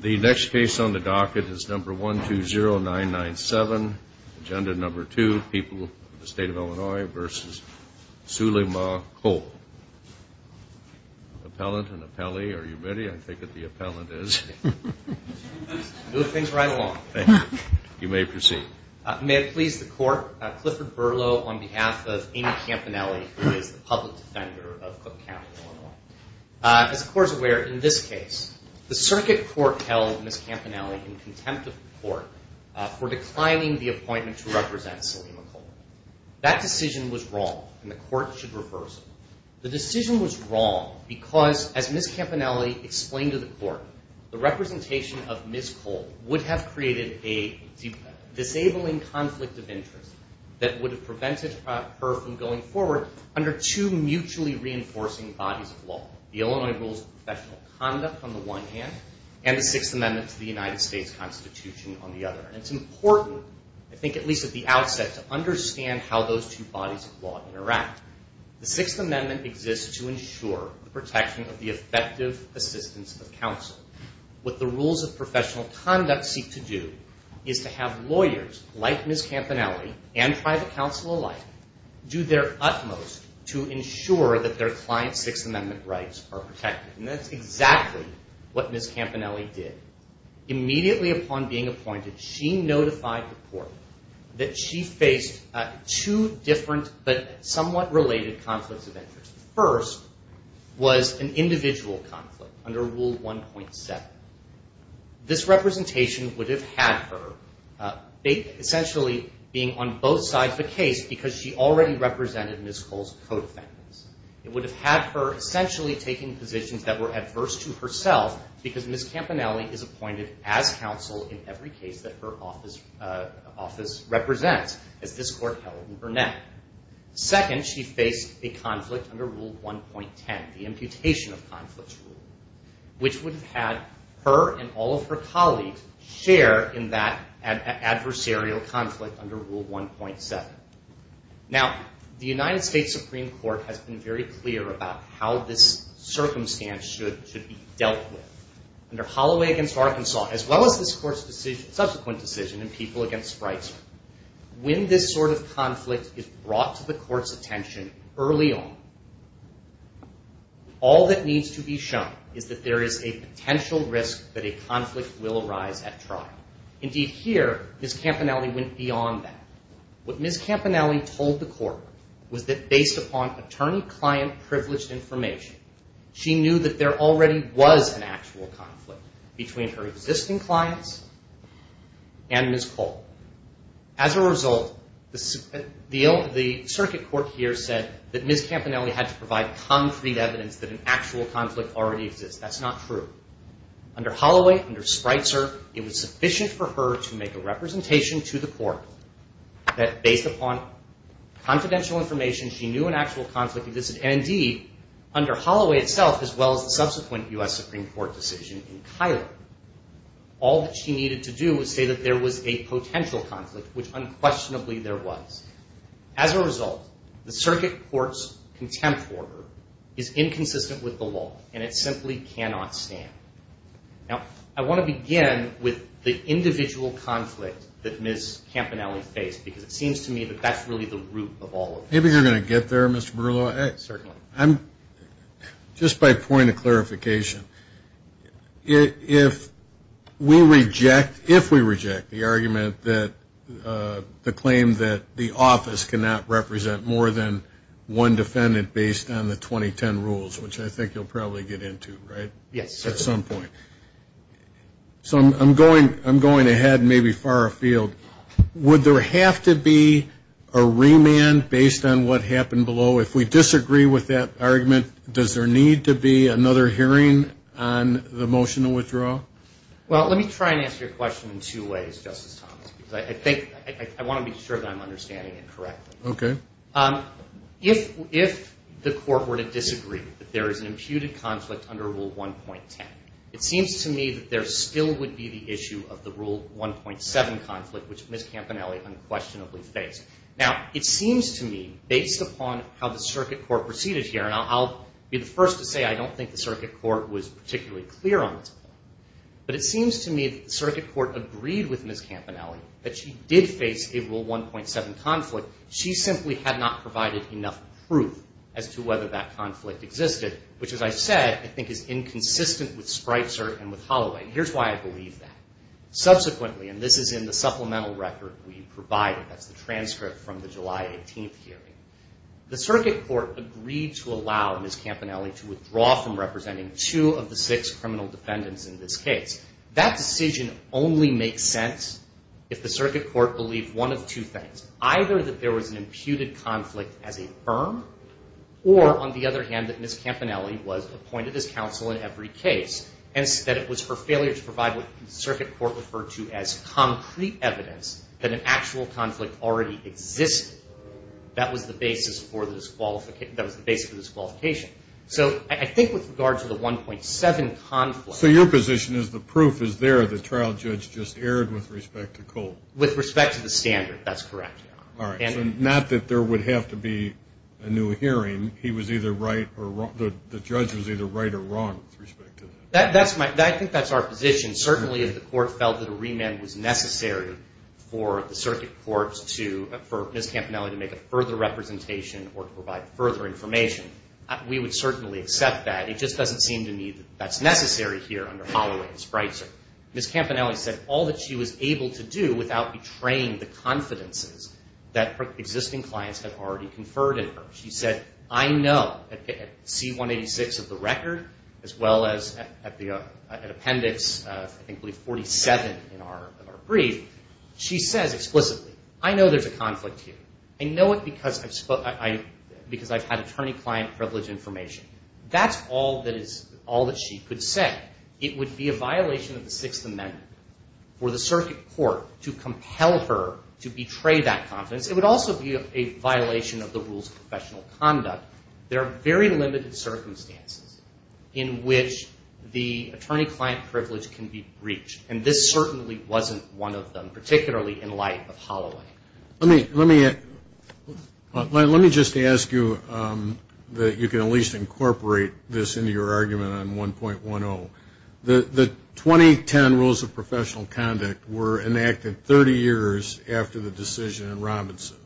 The next case on the docket is number 120997. Agenda number two, People of the State of Illinois v. Suleyma Cole. Appellant and appellee, are you ready? I think that the appellant is. Move things right along. You may proceed. May it please the court, Clifford Berlow on behalf of Amy Campanelli, who is the public defender of Cook County, Illinois. As the court is aware, in this case, the circuit court held Ms. Campanelli in contempt of the court for declining the appointment to represent Suleyma Cole. That decision was wrong, and the court should reverse it. The decision was wrong because, as Ms. Campanelli explained to the court, the representation of Ms. Cole would have created a disabling conflict of interest that would have prevented her from going forward under two mutually reinforcing bodies of law. The Illinois Rules of Professional Conduct, on the one hand, and the Sixth Amendment to the United States Constitution, on the other. And it's important, I think at least at the outset, to understand how those two bodies of law interact. The Sixth Amendment exists to ensure the protection of the effective assistance of counsel. What the Rules of Professional Conduct seek to do is to have lawyers like Ms. Campanelli and private counsel alike do their utmost to ensure that their client's Sixth Amendment rights are protected. And that's exactly what Ms. Campanelli did. Immediately upon being appointed, she notified the court that she faced two different but somewhat related conflicts of interest. The first was an individual conflict under Rule 1.7. This representation would have had her essentially being on both sides of the case because she already represented Ms. Cole's co-defendants. It would have had her essentially taking positions that were adverse to herself because Ms. Campanelli is appointed as counsel in every case that her office represents, as this court held in Burnett. Second, she faced a conflict under Rule 1.10, the Imputation of Conflicts Rule, which would have had her and all of her colleagues share in that adversarial conflict under Rule 1.7. Now, the United States Supreme Court has been very clear about how this circumstance should be dealt with. Under Holloway v. Arkansas, as well as this court's subsequent decision in People v. Fryser, when this sort of conflict is brought to the court's attention early on, all that needs to be shown is that there is a potential risk that a conflict will arise at trial. Indeed, here, Ms. Campanelli went beyond that. What Ms. Campanelli told the court was that based upon attorney-client privileged information, she knew that there already was an actual conflict between her existing clients and Ms. Cole. As a result, the circuit court here said that Ms. Campanelli had to provide concrete evidence that an actual conflict already exists. That's not true. Under Holloway, under Fryser, it was sufficient for her to make a representation to the court that based upon confidential information, she knew an actual conflict existed. And indeed, under Holloway itself, as well as the subsequent U.S. Supreme Court decision in Kyler, all that she needed to do was say that there was a potential conflict, which unquestionably there was. As a result, the circuit court's contempt order is inconsistent with the law, and it simply cannot stand. Now, I want to begin with the individual conflict that Ms. Campanelli faced, because it seems to me that that's really the root of all of this. Maybe you're going to get there, Mr. Berulo. Just by point of clarification, if we reject the argument that the claim that the office cannot represent more than one defendant based on the 2010 rules, which I think you'll probably get into, right? Yes. At some point. So I'm going ahead and maybe far afield. Would there have to be a remand based on what happened below? If we disagree with that argument, does there need to be another hearing on the motion to withdraw? Well, let me try and answer your question in two ways, Justice Thomas, because I think I want to be sure that I'm understanding it correctly. Okay. If the court were to disagree that there is an imputed conflict under Rule 1.10, it seems to me that there still would be the issue of the Rule 1.7 conflict, which Ms. Campanelli unquestionably faced. Now, it seems to me, based upon how the circuit court proceeded here, and I'll be the first to say I don't think the circuit court was particularly clear on this point, but it seems to me that the circuit court agreed with Ms. Campanelli that she did face a Rule 1.7 conflict. She simply had not provided enough proof as to whether that conflict existed, which, as I said, I think is inconsistent with Spreitzer and with Holloway. Here's why I believe that. Subsequently, and this is in the supplemental record we provided, that's the transcript from the July 18th hearing, the circuit court agreed to allow Ms. Campanelli to withdraw from representing two of the six criminal defendants in this case. That decision only makes sense if the circuit court believed one of two things. Either that there was an imputed conflict as a firm, or, on the other hand, that Ms. Campanelli was appointed as counsel in every case, and that it was her failure to provide what the circuit court referred to as concrete evidence that an actual conflict already existed. That was the basis for the disqualification. So I think with regard to the 1.7 conflict. So your position is the proof is there. The trial judge just erred with respect to Colt. With respect to the standard, that's correct, Your Honor. All right. So not that there would have to be a new hearing. He was either right or wrong. The judge was either right or wrong with respect to that. I think that's our position. Certainly if the court felt that a remand was necessary for the circuit court to, for Ms. Campanelli to make a further representation or to provide further information, we would certainly accept that. It just doesn't seem to me that that's necessary here under Holloway and Spreitzer. Ms. Campanelli said all that she was able to do without betraying the confidences that existing clients had already conferred in her. She said, I know, at C-186 of the record as well as at appendix, I think, 47 in our brief, she says explicitly, I know there's a conflict here. I know it because I've had attorney-client privilege information. That's all that she could say. It would be a violation of the Sixth Amendment for the circuit court to compel her to betray that confidence. It would also be a violation of the rules of professional conduct. There are very limited circumstances in which the attorney-client privilege can be breached, and this certainly wasn't one of them, particularly in light of Holloway. Let me just ask you that you can at least incorporate this into your argument on 1.10. The 2010 rules of professional conduct were enacted 30 years after the decision in Robinson.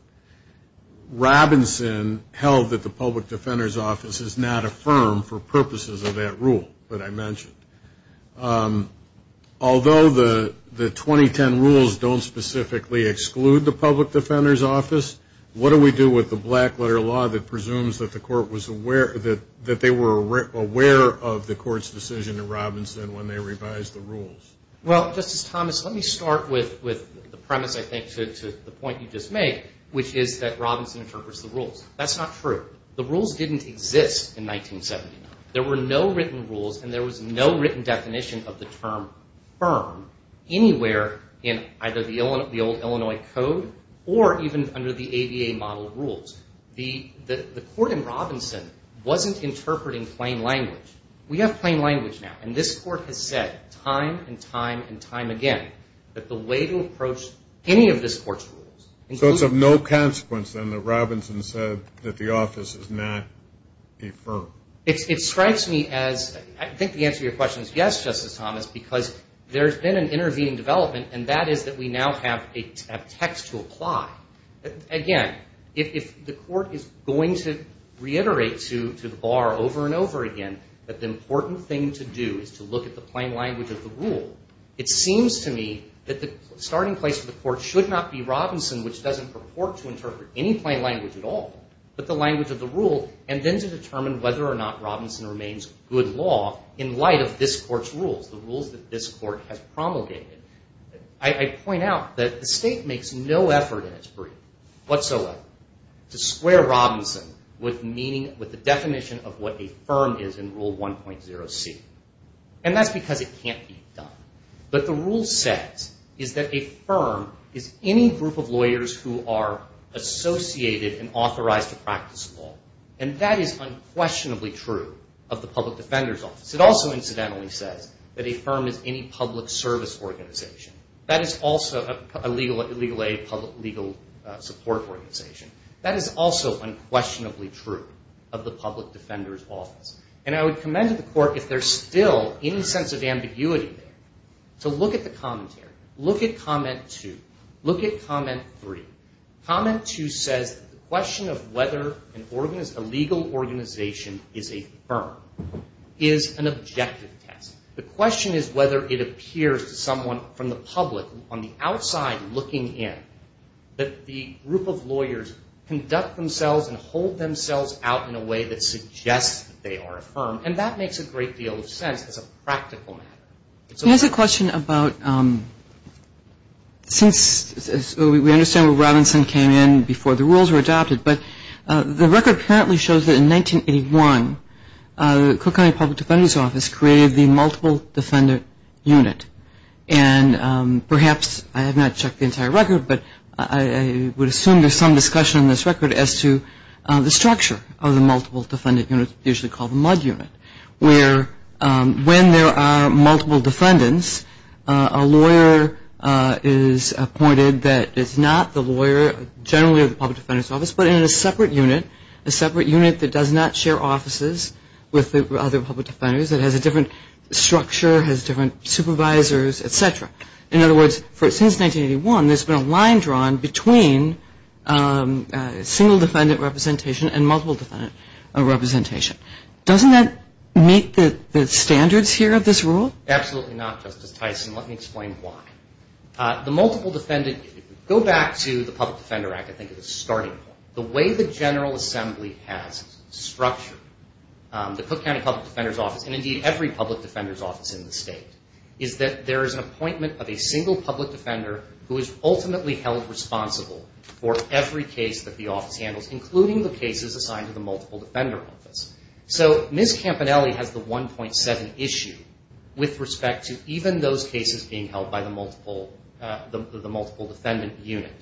Robinson held that the public defender's office is not a firm for purposes of that rule that I mentioned. Although the 2010 rules don't specifically exclude the public defender's office, what do we do with the black letter law that presumes that the court was aware, that they were aware of the court's decision in Robinson when they revised the rules? Well, Justice Thomas, let me start with the premise, I think, to the point you just made, which is that Robinson interprets the rules. That's not true. The rules didn't exist in 1979. There were no written rules, and there was no written definition of the term firm anywhere in either the old Illinois code or even under the ABA model rules. The court in Robinson wasn't interpreting plain language. We have plain language now, and this court has said time and time and time again that the way to approach any of this court's rules includes the law. So it's of no consequence then that Robinson said that the office is not a firm. It strikes me as, I think the answer to your question is yes, Justice Thomas, because there's been an intervening development, and that is that we now have text to apply. Again, if the court is going to reiterate to the bar over and over again that the important thing to do is to look at the plain language of the rule, it seems to me that the starting place for the court should not be Robinson, which doesn't purport to interpret any plain language at all, but the language of the rule, and then to determine whether or not Robinson remains good law in light of this court's rules, the rules that this court has promulgated. I point out that the state makes no effort in its brief whatsoever to square Robinson with the definition of what a firm is in Rule 1.0C, and that's because it can't be done. But the rule says is that a firm is any group of lawyers who are associated and authorized to practice law, and that is unquestionably true of the public defender's office. It also incidentally says that a firm is any public service organization. That is also a legal aid, legal support organization. That is also unquestionably true of the public defender's office. And I would commend to the court if there's still any sense of ambiguity there to look at the commentary, look at Comment 2, look at Comment 3. Comment 2 says the question of whether a legal organization is a firm is an objective test. The question is whether it appears to someone from the public on the outside looking in that the group of lawyers conduct themselves and hold themselves out in a way that suggests that they are a firm, and that makes a great deal of sense as a practical matter. There's a question about since we understand where Robinson came in before the rules were adopted, but the record apparently shows that in 1981, the Cook County Public Defender's Office created the Multiple Defender Unit. And perhaps, I have not checked the entire record, but I would assume there's some discussion in this record as to the structure of the Multiple Defender Unit, usually called the MUD Unit, where when there are multiple defendants, a lawyer is appointed that is not the lawyer generally of the public defender's office, but in a separate unit, a separate unit that does not share offices with the other public defenders. It has a different structure, has different supervisors, et cetera. In other words, since 1981, there's been a line drawn between single defendant representation and multiple defendant representation. Doesn't that meet the standards here of this rule? Absolutely not, Justice Tyson. Let me explain why. The Multiple Defender Unit, go back to the Public Defender Act, I think, as a starting point. The way the General Assembly has structured the Cook County Public Defender's Office, and indeed every public defender's office in the state, is that there is an appointment of a single public defender who is ultimately held responsible for every case that the office handles, including the cases assigned to the Multiple Defender Office. So, Ms. Campanelli has the 1.7 issue with respect to even those cases being held by the Multiple Defender Unit.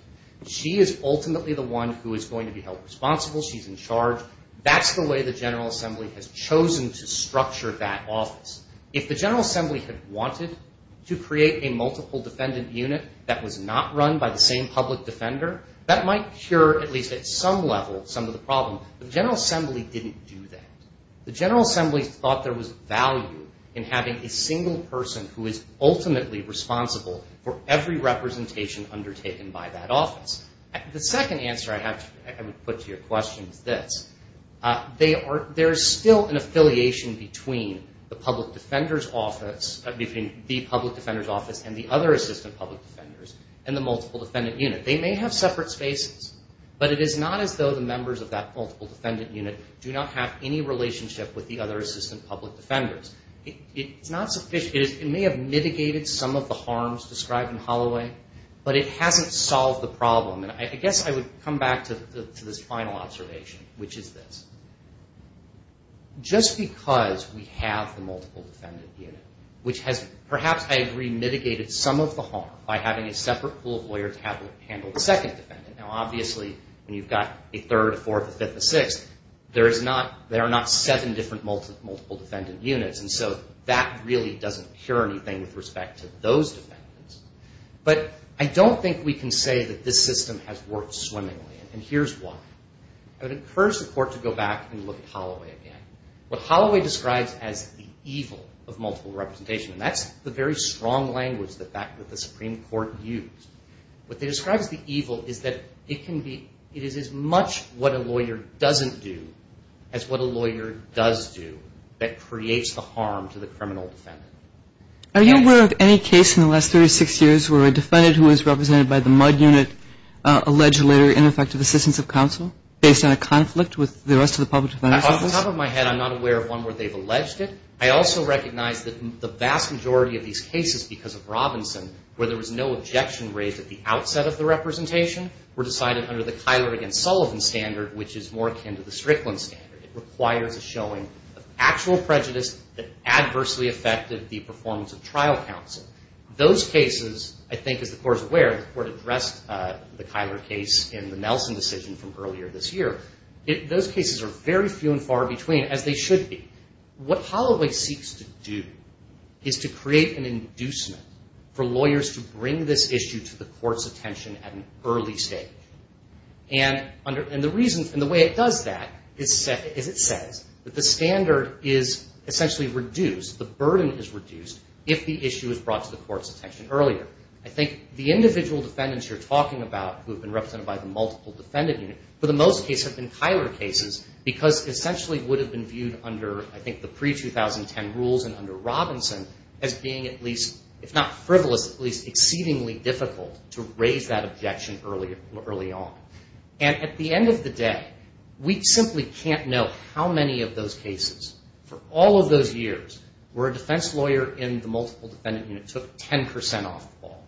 She is ultimately the one who is going to be held responsible. She's in charge. That's the way the General Assembly has chosen to structure that office. If the General Assembly had wanted to create a Multiple Defender Unit that was not run by the same public defender, that might cure, at least at some level, some of the problem. The General Assembly didn't do that. The General Assembly thought there was value in having a single person who is ultimately responsible for every representation undertaken by that office. The second answer I would put to your question is this. There is still an affiliation between the Public Defender's Office and the other Assistant Public Defenders and the Multiple Defender Unit. They may have separate spaces, but it is not as though the members of that Multiple Defender Unit do not have any relationship with the other Assistant Public Defenders. It may have mitigated some of the harms described in Holloway, but it hasn't solved the problem. I guess I would come back to this final observation, which is this. Just because we have the Multiple Defender Unit, which has, perhaps I agree, mitigated some of the harm by having a separate pool of lawyers handle the second defendant. Obviously, when you've got a third, a fourth, a fifth, a sixth, there are not seven different Multiple Defendant Units, and so that really doesn't cure anything with respect to those defendants. But I don't think we can say that this system has worked swimmingly, and here's why. I would encourage the Court to go back and look at Holloway again. What Holloway describes as the evil of multiple representation, and that's the very strong language that the Supreme Court used. What they describe as the evil is that it can be, it is as much what a lawyer doesn't do as what a lawyer does do that creates the harm to the criminal defendant. Are you aware of any case in the last 36 years where a defendant who was represented by the MUD Unit alleged later ineffective assistance of counsel based on a conflict with the rest of the public defender's office? Off the top of my head, I'm not aware of one where they've alleged it. I also recognize that the vast majority of these cases, because of Robinson, where there was no objection raised at the outset of the representation, were decided under the Kyler against Sullivan standard, which is more akin to the Strickland standard. It requires a showing of actual prejudice that adversely affected the performance of trial counsel. Those cases, I think, as the Court is aware, the Court addressed the Kyler case in the Nelson decision from earlier this year. Those cases are very few and far between, as they should be. What Holloway seeks to do is to create an inducement for lawyers to bring this issue to the Court's attention at an early stage. And the reason, and the way it does that is it says that the standard is essentially reduced, the burden is reduced, if the issue is brought to the Court's attention earlier. I think the individual defendants you're talking about who have been represented by the multiple defendant unit, for the most case, have been Kyler cases because essentially would have been viewed under, I think, the pre-2010 rules and under Robinson as being at least, if not frivolous, at least exceedingly difficult to raise that objection early on. And at the end of the day, we simply can't know how many of those cases, for all of those years, where a defense lawyer in the multiple defendant unit took 10% off the ball,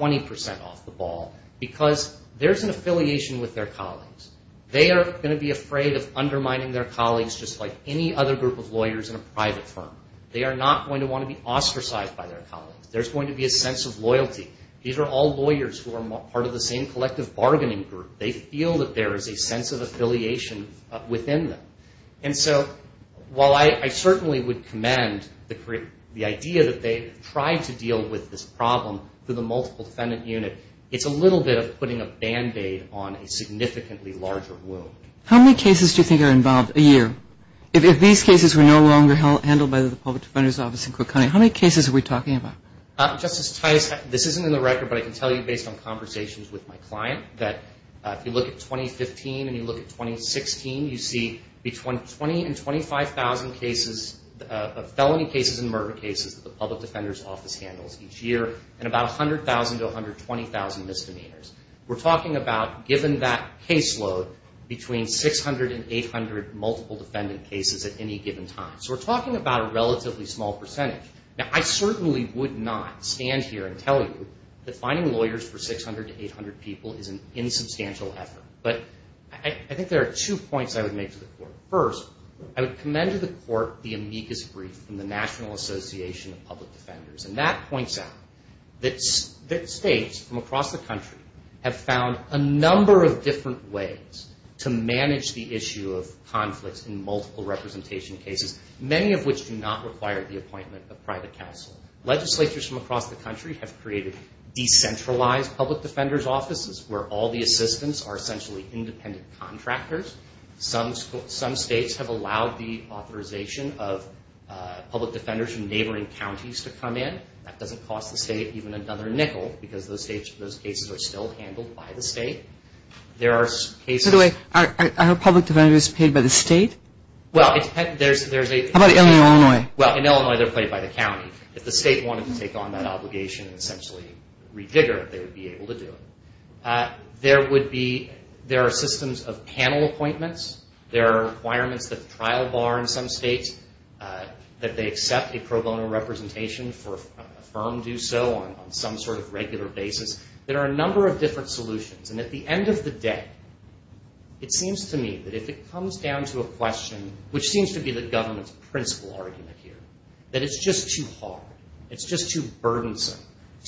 20% off the ball, because there's an affiliation with their colleagues. They are going to be afraid of undermining their colleagues just like any other group of lawyers in a private firm. They are not going to want to be ostracized by their colleagues. There's going to be a sense of loyalty. These are all lawyers who are part of the same collective bargaining group. They feel that there is a sense of affiliation within them. And so, while I certainly would commend the idea that they tried to deal with this problem through the multiple defendant unit, it's a little bit of putting a Band-Aid on a significantly larger wound. How many cases do you think are involved a year? If these cases were no longer handled by the Public Defender's Office in Cook County, how many cases are we talking about? Justice Titus, this isn't in the record, but I can tell you based on conversations with my client that if you look at 2015 and you look at 2016, you see between 20 and 25,000 cases of felony cases and murder cases that the Public Defender's Office handles each year and about 100,000 to 120,000 misdemeanors. We're talking about, given that caseload, between 600 and 800 multiple defendant cases at any given time. So we're talking about a relatively small percentage. Now, I certainly would not stand here and tell you that finding lawyers for 600 to 800 people is an insubstantial effort. But I think there are two points I would make to the Court. First, I would commend to the Court the amicus brief from the National Association of Public Defenders. And that points out that states from across the country have found a number of different ways to manage the issue of conflicts in multiple representation cases, many of which do not require the appointment of private counsel. Legislatures from across the country have created decentralized Public Defender's Offices where all the assistants are essentially independent contractors. Some states have allowed the authorization of public defenders from neighboring counties to come in. That doesn't cost the state even another nickel because those cases are still handled by the state. There are cases... By the way, are public defenders paid by the state? Well, there's a... How about Illinois? Well, in Illinois, they're paid by the county. If the state wanted to take on that obligation and essentially rejigger it, they would be able to do it. There are systems of panel appointments. There are requirements that the trial bar in some states that they accept a pro bono representation for a firm do so on some sort of regular basis. There are a number of different solutions. And at the end of the day, it seems to me that if it comes down to a question, which seems to be the government's principal argument here, that it's just too hard, it's just too burdensome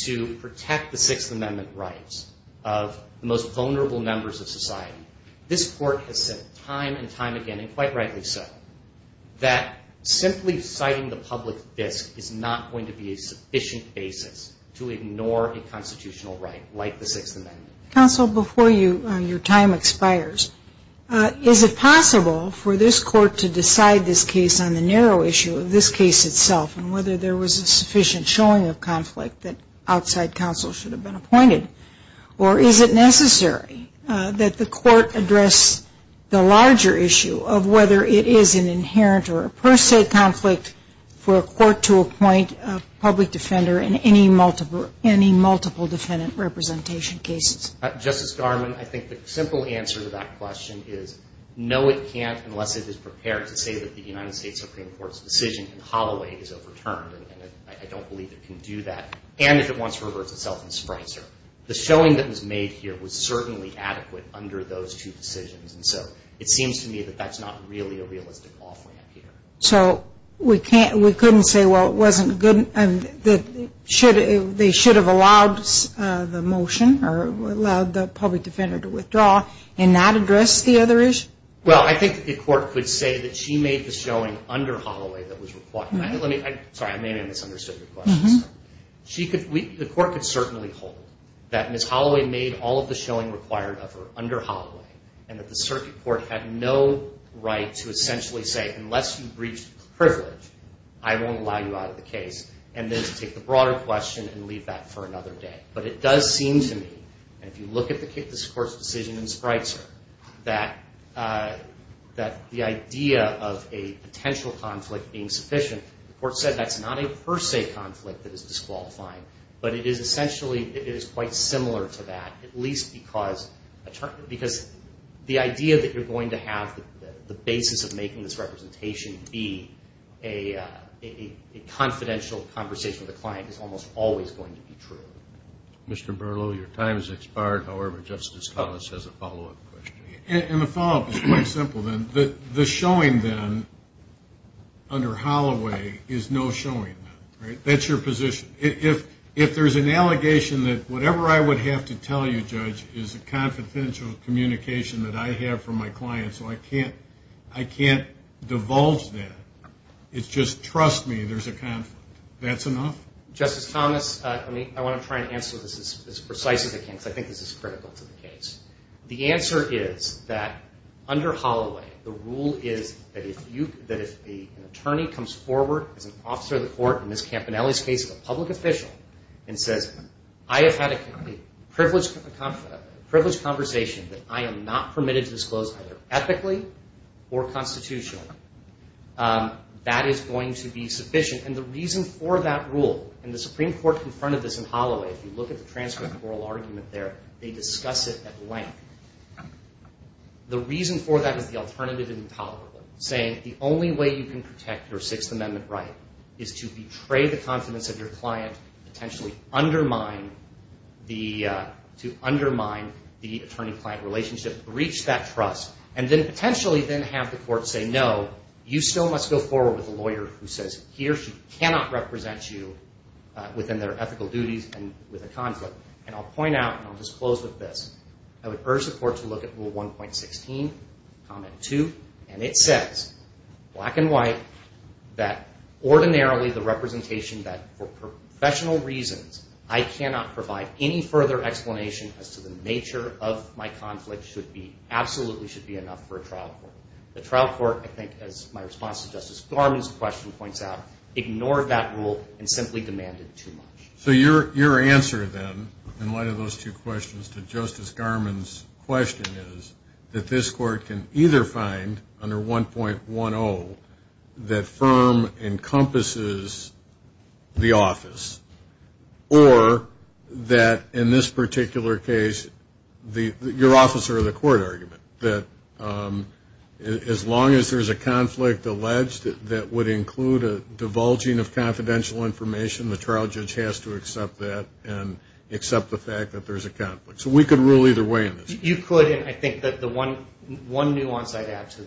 to protect the Sixth Amendment rights of the most vulnerable members of society, this Court has said time and time again, and quite rightly so, that simply citing the public fisc is not going to be a sufficient basis to ignore a constitutional right like the Sixth Amendment. Counsel, before your time expires, is it possible for this Court to decide this case on the narrow issue of this case itself and whether there was a sufficient showing of conflict that outside counsel should have been appointed? Or is it necessary that the Court address the larger issue of whether it is an inherent or a per se conflict for a court to appoint a public defender in any multiple defendant representation cases? Justice Garland, I think the simple answer to that question is no, it can't, unless it is prepared to say that the United States Supreme Court's decision in Holloway is overturned. And I don't believe it can do that. And if it wants to reverse itself in Spricer. The showing that was made here was certainly adequate under those two decisions. And so it seems to me that that's not really a realistic off ramp here. So we couldn't say, well, they should have allowed the motion or allowed the public defender to withdraw and not address the other issue? Well, I think the Court could say that she made the showing under Holloway that was required. Sorry, I may have misunderstood your question. The Court could certainly hold that Ms. Holloway made all of the showing required of her under Holloway and that the circuit court had no right to essentially say, unless you breach the privilege, I won't allow you out of the case, and then to take the broader question and leave that for another day. But it does seem to me, and if you look at this Court's decision in Spricer, that the idea of a potential conflict being sufficient, the Court said that's not a per se conflict that is disqualifying, but it is essentially quite similar to that, at least because the idea that you're going to have the basis of making this representation be a confidential conversation with a client is almost always going to be true. Mr. Berlow, your time has expired. However, Justice Collins has a follow-up question. And the follow-up is quite simple, then. The showing, then, under Holloway is no showing, right? That's your position. If there's an allegation that whatever I would have to tell you, Judge, is a confidential communication that I have from my client, so I can't divulge that. It's just, trust me, there's a conflict. That's enough? Justice Thomas, I want to try and answer this as precisely as I can because I think this is critical to the case. The answer is that under Holloway, the rule is that if an attorney comes forward, as an officer of the court, in Ms. Campanelli's case, a public official, and says, I have had a privileged conversation that I am not permitted to disclose, either ethically or constitutionally, that is going to be sufficient. And the reason for that rule, and the Supreme Court confronted this in Holloway, if you look at the transcript of oral argument there, they discuss it at length. The reason for that is the alternative is intolerable, saying the only way you can protect your Sixth Amendment right is to betray the confidence of your client, potentially undermine the attorney-client relationship, breach that trust, and then potentially have the court say, no, you still must go forward with a lawyer who says he or she cannot represent you within their ethical duties and with a conflict. And I'll point out, and I'll disclose with this, I would urge the court to look at Rule 1.16, Comment 2, and it says, black and white, that ordinarily the representation that, for professional reasons, I cannot provide any further explanation as to the nature of my conflict absolutely should be enough for a trial court. The trial court, I think, as my response to Justice Garmon's question points out, ignored that rule and simply demanded too much. So your answer, then, in light of those two questions, to Justice Garmon's question is that this court can either find under 1.10 that firm encompasses the office or that, in this particular case, your officer or the court argument that as long as there's a conflict alleged that would include a divulging of confidential information, the trial judge has to accept that and accept the fact that there's a conflict. So we could rule either way in this case. You could, and I think that the one nuance I'd add to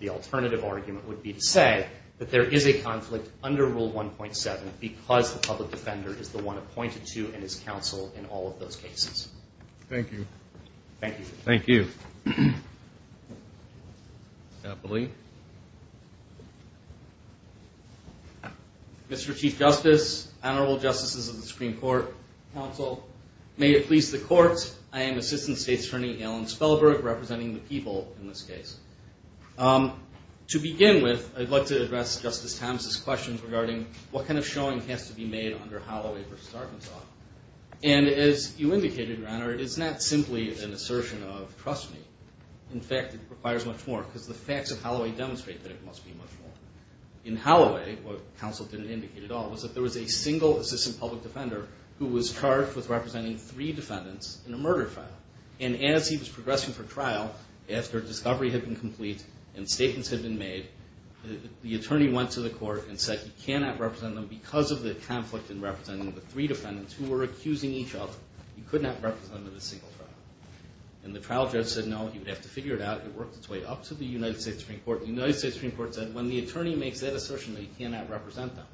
the alternative argument would be to say that there is a conflict under Rule 1.7 because the public defender is the one appointed to and is counsel in all of those cases. Thank you. Thank you. Thank you. Happily. Mr. Chief Justice, Honorable Justices of the Supreme Court, Counsel, may it please the Court, I am Assistant State's Attorney Alan Spellberg representing the people in this case. To begin with, I'd like to address Justice Thomas's questions regarding what kind of showing has to be made under Holloway v. Arkansas. And as you indicated, Your Honor, it's not simply an assertion of trust me. In fact, it requires much more because the facts of Holloway demonstrate that it must be much more. In Holloway, what counsel didn't indicate at all was that there was a single assistant public defender who was charged with representing three defendants in a murder trial. And as he was progressing for trial, after discovery had been complete and statements had been made, the attorney went to the court and said he cannot represent them because of the conflict in representing the three defendants who were accusing each other. He could not represent them in a single trial. And the trial judge said, no, you'd have to figure it out. It worked its way up to the United States Supreme Court. The United States Supreme Court said when the attorney makes that assertion that he cannot represent them,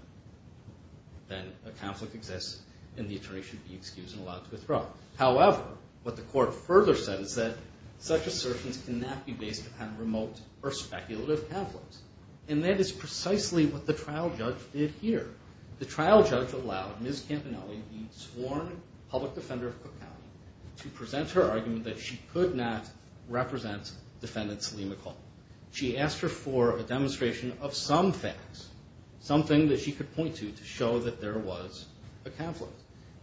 then a conflict exists and the attorney should be excused and allowed to withdraw. However, what the court further said is that such assertions cannot be based upon remote or speculative conflicts. And that is precisely what the trial judge did here. The trial judge allowed Ms. Campanelli, the sworn public defender of Cook County, to present her argument that she could not represent Defendant Salimah Cole. She asked her for a demonstration of some facts, something that she could point to, to show that there was a conflict.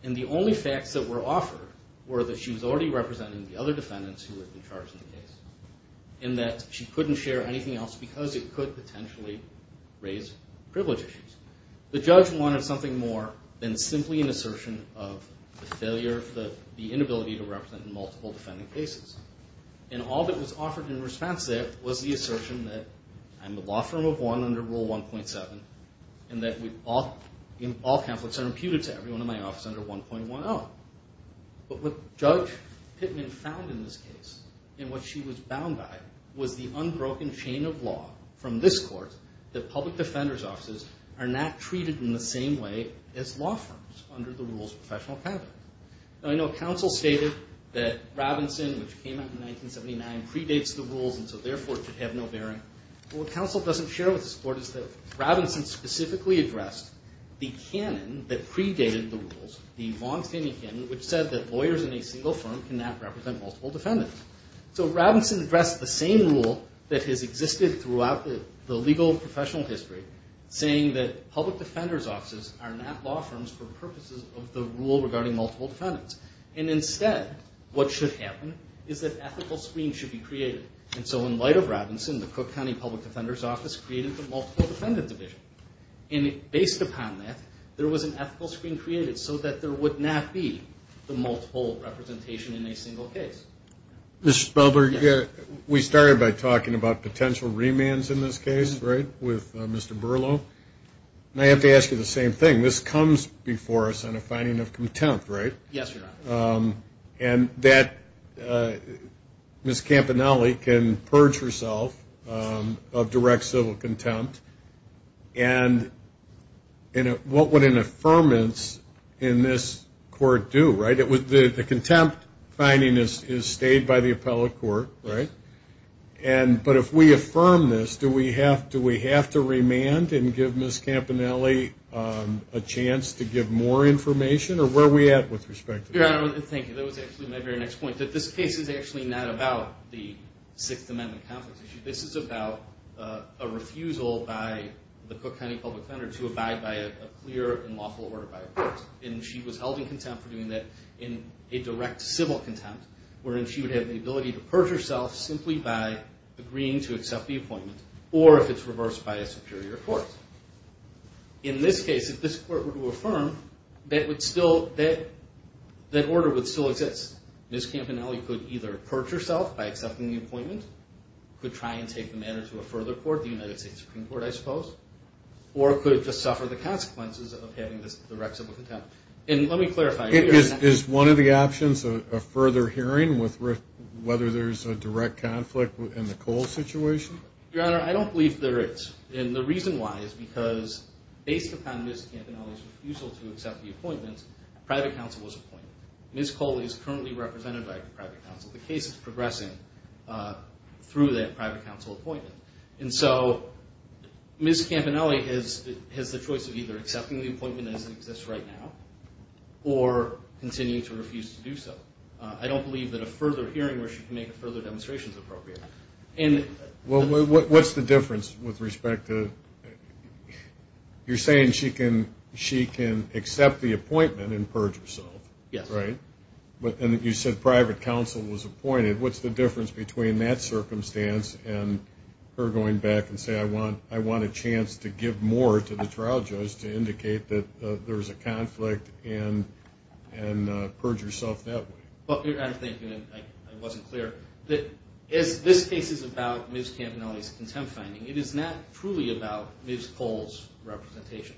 And the only facts that were offered were that she was already representing the other defendants who had been charged in the case, and that she couldn't share anything else because it could potentially raise privilege issues. The judge wanted something more than simply an assertion of the failure of the inability to represent multiple defendant cases. And all that was offered in response to that was the assertion that I'm a law firm of one under Rule 1.7 and that all conflicts are imputed to everyone in my office under 1.10. But what Judge Pittman found in this case and what she was bound by was the unbroken chain of law from this court that public defender's offices are not treated in the same way as law firms under the Rules Professional Cabinet. Now, I know counsel stated that Robinson, which came out in 1979, predates the rules, and so therefore it should have no bearing. But what counsel doesn't share with this court is that Robinson specifically addressed the canon that predated the rules, the longstanding canon, which said that lawyers in a single firm cannot represent multiple defendants. So Robinson addressed the same rule that has existed throughout the legal professional history, saying that public defender's offices are not law firms for purposes of the rule regarding multiple defendants. And instead, what should happen is that ethical screens should be created. And so in light of Robinson, the Cook County Public Defender's Office created the Multiple Defendant Division. And based upon that, there was an ethical screen created so that there would not be the multiple representation in a single case. Mr. Spelberg, we started by talking about potential remands in this case, right, with Mr. Berlo. And I have to ask you the same thing. This comes before us on a finding of contempt, right? Yes, Your Honor. And that Ms. Campanelli can purge herself of direct civil contempt. And what would an affirmance in this court do, right? The contempt finding is stayed by the appellate court, right? But if we affirm this, do we have to remand and give Ms. Campanelli a chance to give more information? Or where are we at with respect to that? Your Honor, thank you. That was actually my very next point, that this case is actually not about the Sixth Amendment conflict issue. This is about a refusal by the Cook County Public Defender to abide by a clear and lawful order by a court. And she was held in contempt for doing that in a direct civil contempt, wherein she would have the ability to purge herself simply by agreeing to accept the appointment, or if it's reversed by a superior court. In this case, if this court were to affirm, that order would still exist. Ms. Campanelli could either purge herself by accepting the appointment, could try and take the matter to a further court, the United States Supreme Court, I suppose, or could just suffer the consequences of having this direct civil contempt. And let me clarify. Is one of the options a further hearing with whether there's a direct conflict in the Cole situation? Your Honor, I don't believe there is. And the reason why is because based upon Ms. Campanelli's refusal to accept the appointment, private counsel was appointed. Ms. Cole is currently represented by private counsel. The case is progressing through that private counsel appointment. And so Ms. Campanelli has the choice of either accepting the appointment as it exists right now or continuing to refuse to do so. I don't believe that a further hearing where she can make further demonstrations is appropriate. Well, what's the difference with respect to you're saying she can accept the appointment and purge herself, right? Yes. And you said private counsel was appointed. What's the difference between that circumstance and her going back and saying, I want a chance to give more to the trial judge to indicate that there's a conflict and purge yourself that way? Your Honor, thank you. I wasn't clear. This case is about Ms. Campanelli's contempt finding. It is not truly about Ms. Cole's representation.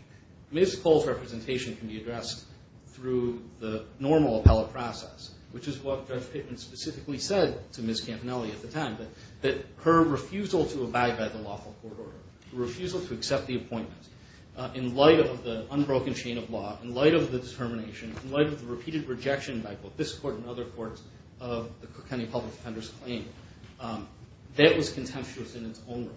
Ms. Cole's representation can be addressed through the normal appellate process, which is what Judge Pittman specifically said to Ms. Campanelli at the time, that her refusal to abide by the lawful court order, refusal to accept the appointment in light of the unbroken chain of law, in light of the determination, in light of the repeated rejection by both this court and other courts of the Cook County Public Defender's claim, that was contemptuous in its own right.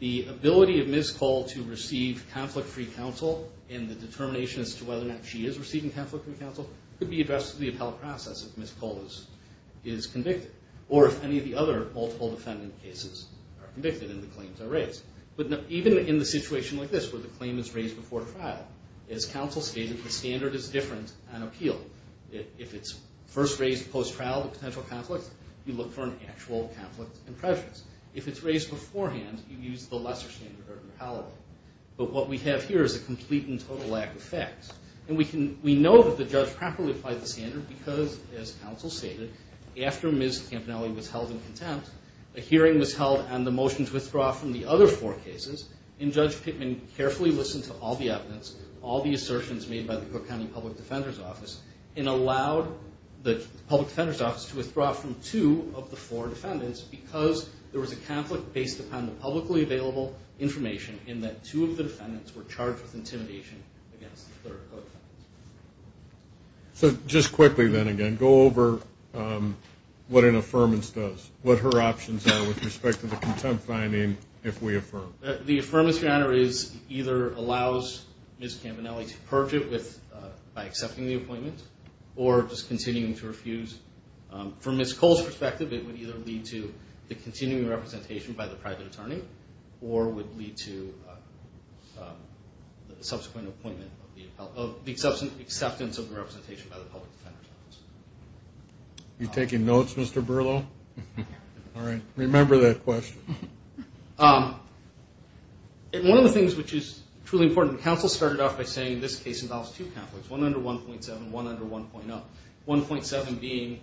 The ability of Ms. Cole to receive conflict-free counsel and the determination as to whether or not she is receiving conflict-free counsel could be addressed through the appellate process if Ms. Cole is convicted. Or if any of the other multiple defendant cases are convicted and the claims are raised. But even in the situation like this, where the claim is raised before trial, as counsel stated, the standard is different on appeal. If it's first raised post-trial to potential conflict, you look for an actual conflict and prejudice. If it's raised beforehand, you use the lesser standard of repellent. But what we have here is a complete and total lack of facts. And we know that the judge properly applied the standard because, as Ms. Campanelli was held in contempt, a hearing was held and the motion to withdraw from the other four cases. And Judge Pittman carefully listened to all the evidence, all the assertions made by the Cook County Public Defender's Office, and allowed the Public Defender's Office to withdraw from two of the four defendants because there was a conflict based upon the publicly available information in that two of the defendants were charged with intimidation against the third co-defendant. So just quickly then, again, go over what an affirmance does, what her options are with respect to the contempt finding if we affirm. The affirmance, Your Honor, either allows Ms. Campanelli to purge it by accepting the appointment or just continuing to refuse. From Ms. Cole's perspective, it would either lead to the continuing representation by the private attorney or would lead to the subsequent appointment of the acceptance of the representation by the Public Defender's Office. You taking notes, Mr. Berlow? All right. Remember that question. One of the things which is truly important, counsel started off by saying this case involves two conflicts, one under 1.7, one under 1.0. 1.7 being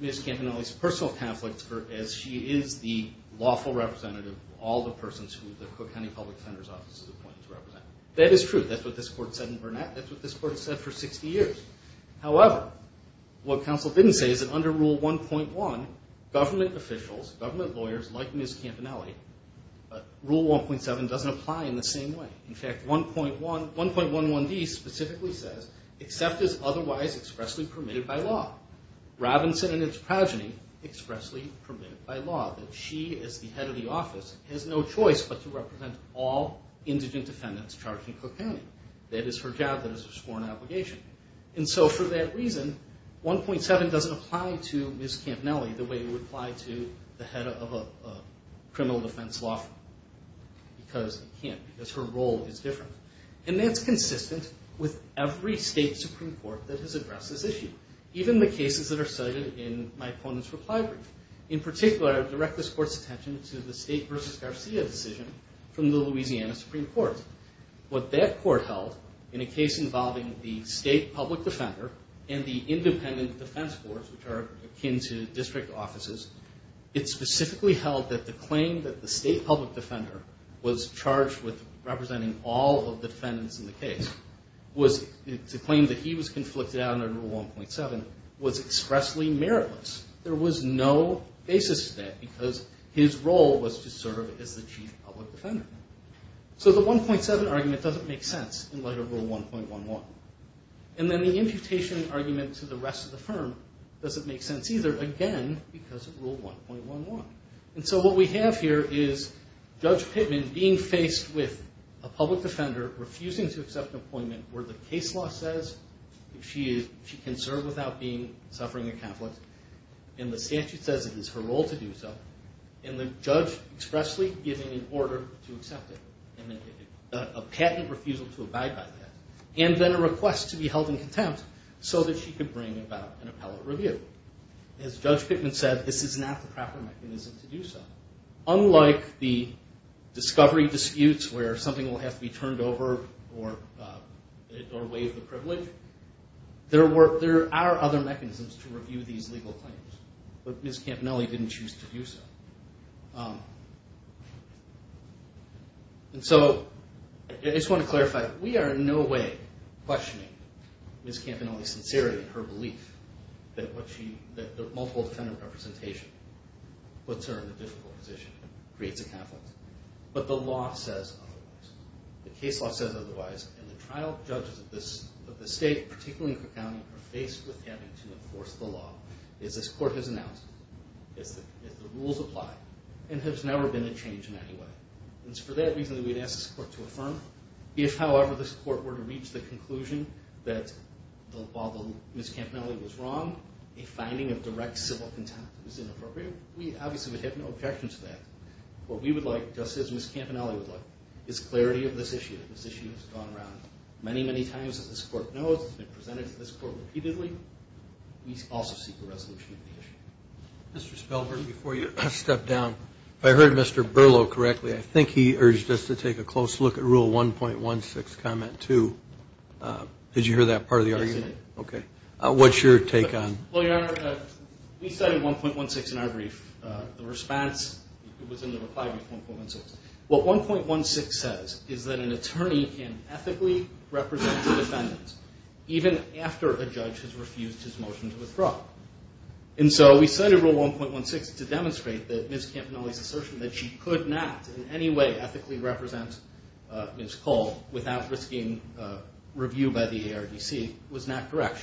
Ms. Campanelli's personal conflict as she is the lawful representative of all the persons who the Cook County Public Defender's Office has appointed to represent. That is true. That's what this court said in Burnett. That's what this court said for 60 years. However, what counsel didn't say is that under Rule 1.1, government officials, government lawyers like Ms. Campanelli, Rule 1.7 doesn't apply in the same way. In fact, 1.11d specifically says, except as otherwise expressly permitted by law, Robinson and its progeny expressly permitted by law, that she as the head of the office has no choice but to represent all indigent defendants charged in Cook County. That is her job. That is her sworn obligation. And so for that reason, 1.7 doesn't apply to Ms. Campanelli the way it would apply to the head of a criminal defense law firm because it can't because her role is different. And that's consistent with every state Supreme Court that has addressed this issue, even the cases that are cited in my opponent's reply brief. In particular, I would direct this court's attention to the State versus Garcia decision from the Louisiana Supreme Court. What that court held in a case involving the state public defender and the independent defense courts, which are akin to district offices, it specifically held that the claim that the state public defender was charged with representing all of the defendants in the case was to claim that he was conflicted out under Rule 1.7 was expressly meritless. There was no basis to that because his role was to serve as the chief public defender. So the 1.7 argument doesn't make sense in light of Rule 1.11. And then the imputation argument to the rest of the firm doesn't make sense either, again, because of Rule 1.11. And so what we have here is Judge Pittman being faced with a public defender refusing to accept an appointment where the case law says she can serve without suffering a conflict, and the statute says it is her role to do so, and the judge expressly giving an order to accept it, and then a patent refusal to abide by that, and then a request to be held in contempt so that she could bring about an appellate review. As Judge Pittman said, this is not the proper mechanism to do so. There are other mechanisms to review these legal claims, but Ms. Campanelli didn't choose to do so. And so I just want to clarify, we are in no way questioning Ms. Campanelli's sincerity in her belief that multiple defendant representation puts her in a difficult position, creates a conflict. But the law says otherwise. The case law says otherwise, and the trial judges of the state, particularly in Cook County, are faced with having to enforce the law, as this court has announced, as the rules apply, and has never been a change in any way. And so for that reason, we'd ask this court to affirm. If, however, this court were to reach the conclusion that while Ms. Campanelli was wrong, a finding of direct civil contempt was inappropriate, we obviously would have no objections to that. What we would like, just as Ms. Campanelli would like, is clarity of this issue. This issue has gone around many, many times as this court knows. It's been presented to this court repeatedly. We also seek a resolution of the issue. Mr. Spelberg, before you step down, if I heard Mr. Berlow correctly, I think he urged us to take a close look at Rule 1.16, Comment 2. Did you hear that part of the argument? Yes, I did. Okay. What's your take on it? Well, Your Honor, we studied 1.16 in our brief. The response was in the reply to 1.16. What 1.16 says is that an attorney can ethically represent a defendant even after a judge has refused his motion to withdraw. And so we studied Rule 1.16 to demonstrate that Ms. Campanelli's assertion that she could not in any way ethically represent Ms. Cole without risking review by the ARDC was not correct.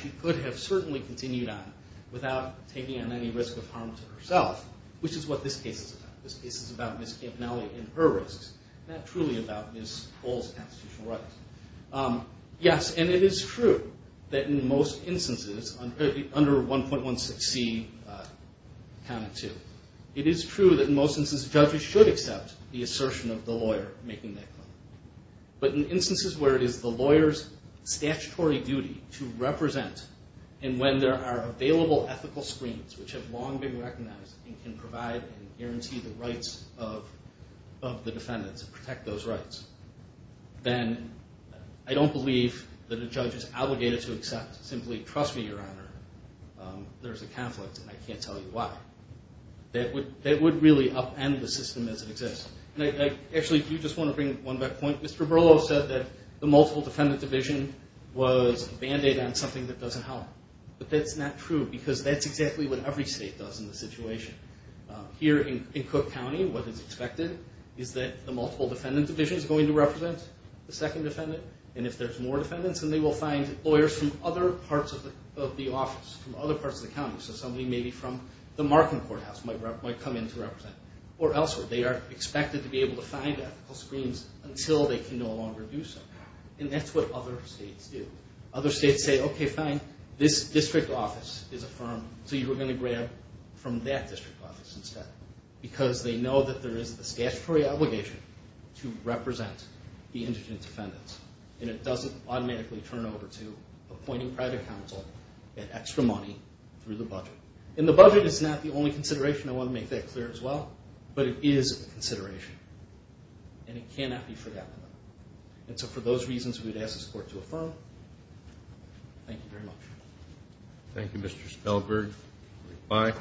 Which is what this case is about. This case is about Ms. Campanelli and her risks, not truly about Ms. Cole's constitutional rights. Yes, and it is true that in most instances under 1.16C, Comment 2, it is true that in most instances judges should accept the assertion of the lawyer making that claim. And when there are available ethical screens which have long been recognized and can provide and guarantee the rights of the defendants and protect those rights, then I don't believe that a judge is obligated to accept simply, trust me, Your Honor, there's a conflict and I can't tell you why. That would really upend the system as it exists. Actually, I do just want to bring one back point. Mr. Berlow said that the multiple defendant division was a band-aid on something that doesn't help. But that's not true because that's exactly what every state does in this situation. Here in Cook County, what is expected is that the multiple defendant division is going to represent the second defendant. And if there's more defendants, then they will find lawyers from other parts of the office, from other parts of the county. So somebody maybe from the Markham Courthouse might come in to represent. Or elsewhere. They are expected to be able to find ethical screens until they can no longer do so. And that's what other states do. Other states say, okay, fine, this district office is a firm, so you're going to grab from that district office instead. Because they know that there is a statutory obligation to represent the indigent defendants. And it doesn't automatically turn over to appointing private counsel and extra money through the budget. And the budget is not the only consideration. I want to make that clear as well. But it is a consideration. And it cannot be forgotten. And so for those reasons, we would ask this court to affirm. Thank you very much. Thank you, Mr. Spellberg. Goodbye.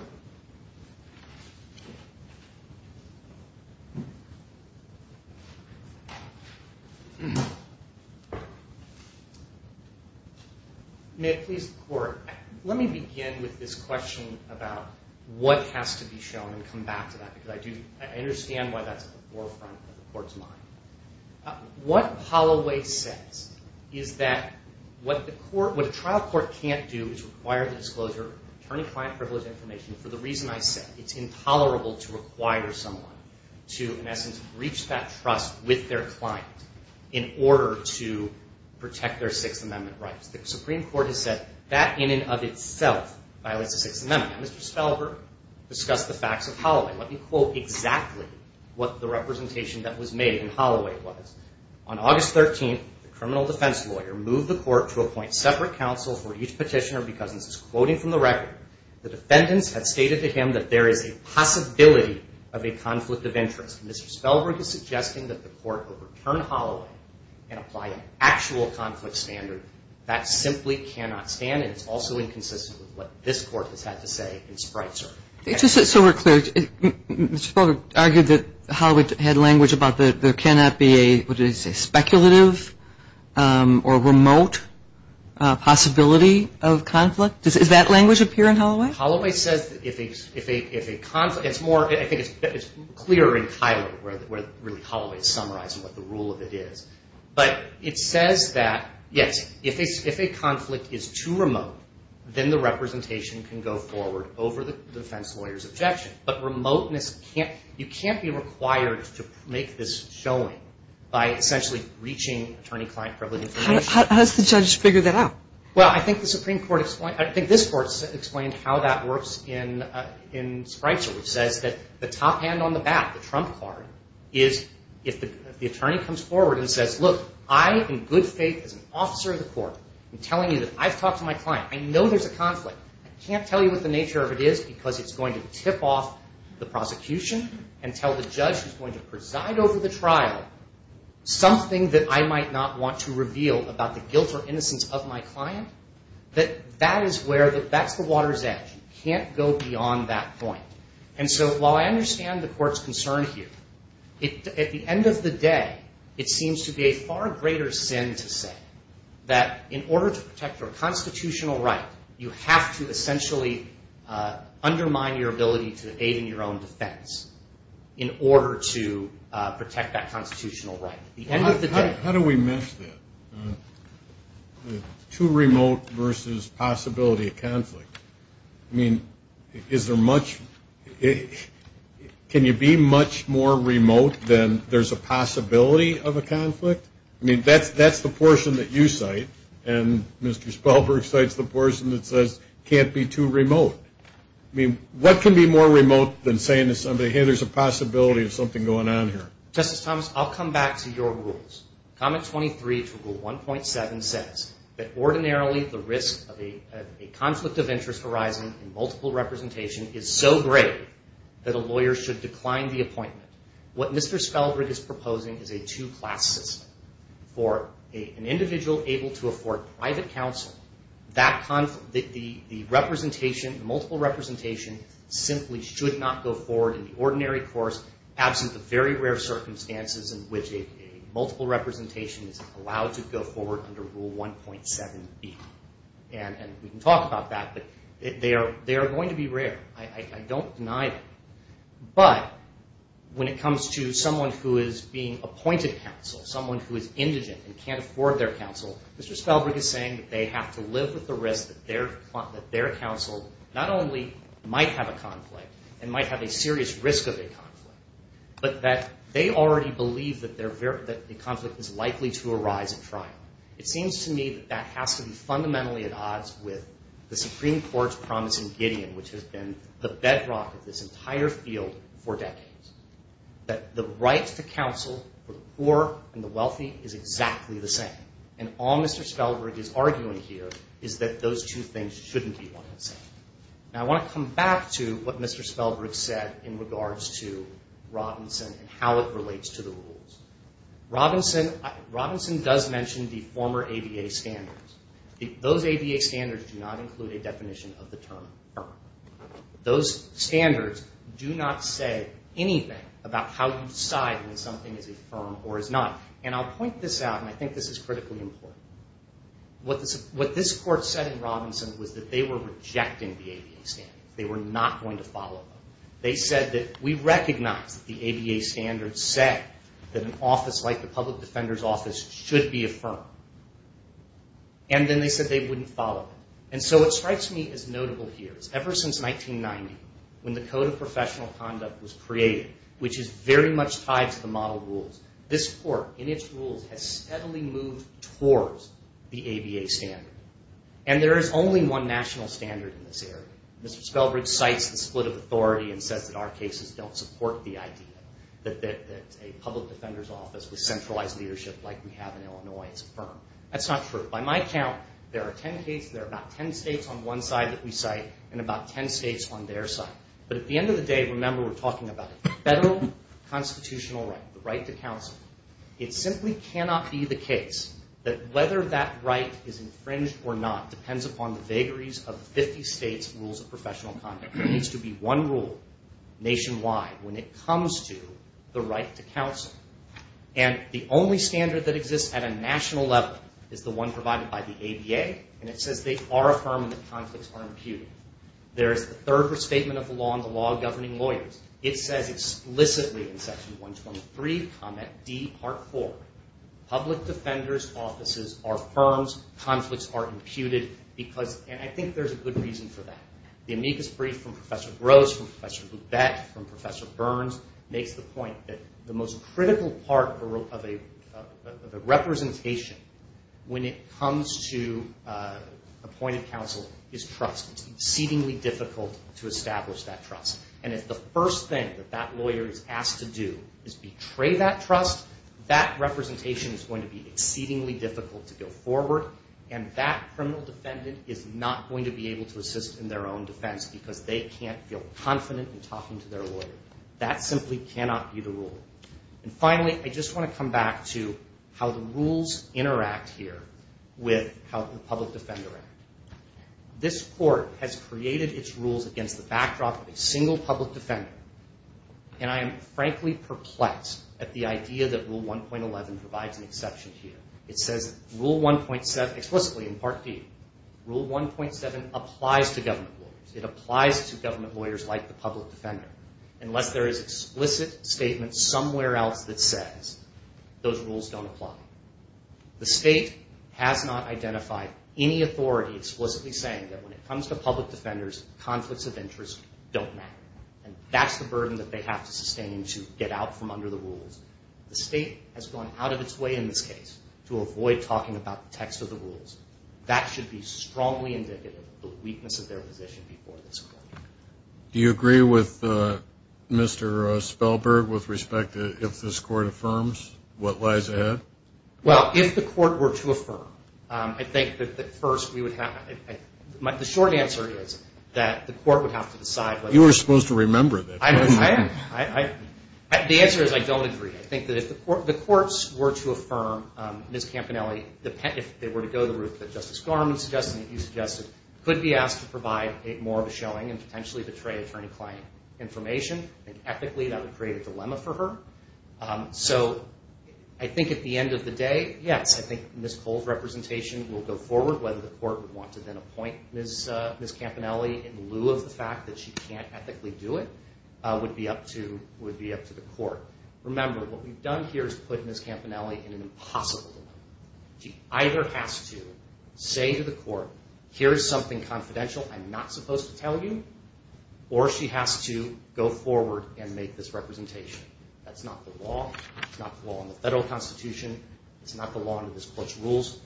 May it please the court, let me begin with this question about what has to be shown and come back to that. Because I understand why that's at the forefront of the court's mind. What Holloway says is that what a trial court can't do is require the disclosure of attorney-client privilege information for the reason I said. It's intolerable to require someone to, in essence, breach that trust with their client in order to protect their Sixth Amendment rights. The Supreme Court has said that in and of itself violates the Sixth Amendment. Now, Mr. Spellberg discussed the facts of Holloway. Let me quote exactly what the representation that was made in Holloway was. On August 13th, the criminal defense lawyer moved the court to appoint separate counsel for each petitioner because, and this is quoting from the record, the defendants had stated to him that there is a possibility of a conflict of interest. And Mr. Spellberg is suggesting that the court will return Holloway and apply an actual conflict standard. That simply cannot stand. And it's also inconsistent with what this court has had to say in Spreitzer. Just so we're clear, Mr. Spellberg argued that Holloway had language about there cannot be a, what did he say, speculative or remote possibility of conflict. Does that language appear in Holloway? Holloway says if a conflict, it's more, I think it's clearer in Kyler where really Holloway is summarizing what the rule of it is. But it says that, yes, if a conflict is too remote, then the representation can go forward over the defense lawyer's objection. But remoteness, you can't be required to make this showing by essentially reaching attorney-client prevalent information. How does the judge figure that out? Well, I think the Supreme Court, I think this court explained how that works in Spreitzer, which says that the top hand on the bat, the trump card, is if the attorney comes forward and says, look, I in good faith as an officer of the court am telling you that I've talked to my client. I know there's a conflict. I can't tell you what the nature of it is because it's going to tip off the prosecution and tell the judge who's going to preside over the trial something that I might not want to reveal about the guilt or innocence of my client, that that is where, that's the water's edge. You can't go beyond that point. And so while I understand the court's concern here, at the end of the day, it seems to be a far greater sin to say that in order to protect your constitutional right, you have to essentially undermine your ability to aid in your own defense in order to protect that constitutional right. At the end of the day. How do we match that? Too remote versus possibility of conflict. I mean, is there much, can you be much more remote than there's a possibility of a conflict? I mean, that's the portion that you cite and Mr. Spelberg cites the portion that says can't be too remote. I mean, what can be more remote than saying to somebody, hey, there's a possibility of something going on here? Justice Thomas, I'll come back to your rules. Comment 23 to Rule 1.7 says that ordinarily the risk of a conflict of interest arising in multiple representation is so great that a lawyer should decline the appointment. What Mr. Spelberg is proposing is a two-class system. For an individual able to afford private counsel, the representation, multiple representation, simply should not go forward in the ordinary course absent the very rare circumstances in which a multiple representation is allowed to go forward under Rule 1.7B. And we can talk about that, but they are going to be rare. I don't deny that. But when it comes to someone who is being appointed counsel, someone who is indigent and can't afford their counsel, Mr. Spelberg is saying that they have to live with the risk that their counsel not only might have a conflict and might have a serious risk of a conflict, but that they already believe that the conflict is likely to arise at trial. It seems to me that that has to be fundamentally at odds with the Supreme Court's bedrock of this entire field for decades, that the right to counsel for the poor and the wealthy is exactly the same. And all Mr. Spelberg is arguing here is that those two things shouldn't be one and the same. Now, I want to come back to what Mr. Spelberg said in regards to Robinson and how it relates to the rules. Robinson does mention the former ADA standards. Those ADA standards do not include a definition of the term. Those standards do not say anything about how you decide when something is affirmed or is not. And I'll point this out, and I think this is critically important. What this court said in Robinson was that they were rejecting the ADA standards. They were not going to follow them. They said that we recognize that the ADA standards say that an office like the Public Defender's Office should be affirmed. And then they said they wouldn't follow them. And so it strikes me as notable here. It's ever since 1990 when the Code of Professional Conduct was created, which is very much tied to the model rules. This court, in its rules, has steadily moved towards the ADA standard. And there is only one national standard in this area. Mr. Spelberg cites the split of authority and says that our cases don't support the idea that a Public Defender's Office with centralized leadership like we have in Illinois is affirmed. That's not true. By my count, there are 10 cases. There are about 10 states on one side that we cite and about 10 states on their side. But at the end of the day, remember, we're talking about a federal constitutional right, the right to counsel. It simply cannot be the case that whether that right is infringed or not depends upon the vagaries of 50 states' rules of professional conduct. And the only standard that exists at a national level is the one provided by the ADA. And it says they are affirmed and that conflicts are imputed. There is a third restatement of the law in the Law of Governing Lawyers. It says explicitly in Section 123, Comment D, Part 4, Public Defenders' Offices are affirmed, conflicts are imputed, and I think there's a good reason for that. The amicus brief from Professor Gross, from Professor Loubet, from Professor Burns, makes the point that the most critical part of a representation when it comes to appointed counsel is trust. It's exceedingly difficult to establish that trust. And if the first thing that that lawyer is asked to do is betray that trust, that representation is going to be exceedingly difficult to go forward, and that criminal defendant is not going to be able to assist in their own relationship to their lawyer. That simply cannot be the rule. And finally, I just want to come back to how the rules interact here with how the public defender acts. This court has created its rules against the backdrop of a single public defender, and I am frankly perplexed at the idea that Rule 1.11 provides an exception here. It says Rule 1.7 explicitly in Part D. Rule 1.7 applies to government lawyers. It applies to government lawyers like the public defender, unless there is explicit statement somewhere else that says those rules don't apply. The state has not identified any authority explicitly saying that when it comes to public defenders, conflicts of interest don't matter. And that's the burden that they have to sustain to get out from under the rules. The state has gone out of its way in this case to avoid talking about the text of the rules. That should be strongly indicative of the weakness of their position before this court. Do you agree with Mr. Spelberg with respect to if this court affirms what lies ahead? Well, if the court were to affirm, I think that first we would have to decide. The short answer is that the court would have to decide. You were supposed to remember that. The answer is I don't agree. I think that if the courts were to affirm, Ms. Campanelli, if they were to go the route that Justice Garland suggested, that you suggested, could be asked to provide more of a showing and potentially betray attorney-client information. I think ethically that would create a dilemma for her. So I think at the end of the day, yes, I think Ms. Cole's representation will go forward. Whether the court would want to then appoint Ms. Campanelli in lieu of the fact that she can't ethically do it would be up to the court. Remember, what we've done here is put Ms. Campanelli in an impossible dilemma. She either has to say to the court, here's something confidential I'm not supposed to tell you, or she has to go forward and make this representation. That's not the law. It's not the law in the federal constitution. It's not the law under this court's rules.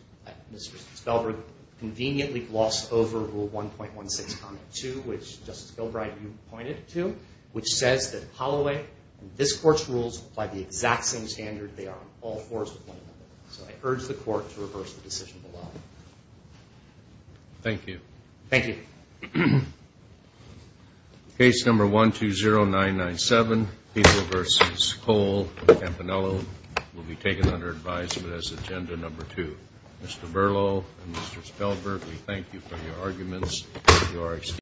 Mr. Spelberg conveniently glossed over Rule 1.16, Comment 2, which Justice Gilbride, you pointed to, which says that Holloway and this court's rules apply the exact same standard they are on all fours with one another. So I urge the court to reverse the decision of the law. Thank you. Thank you. Case number 120997, People v. Cole and Campanello will be taken under advisement as agenda number two. Mr. Berlow and Mr. Spelberg, we thank you for your arguments.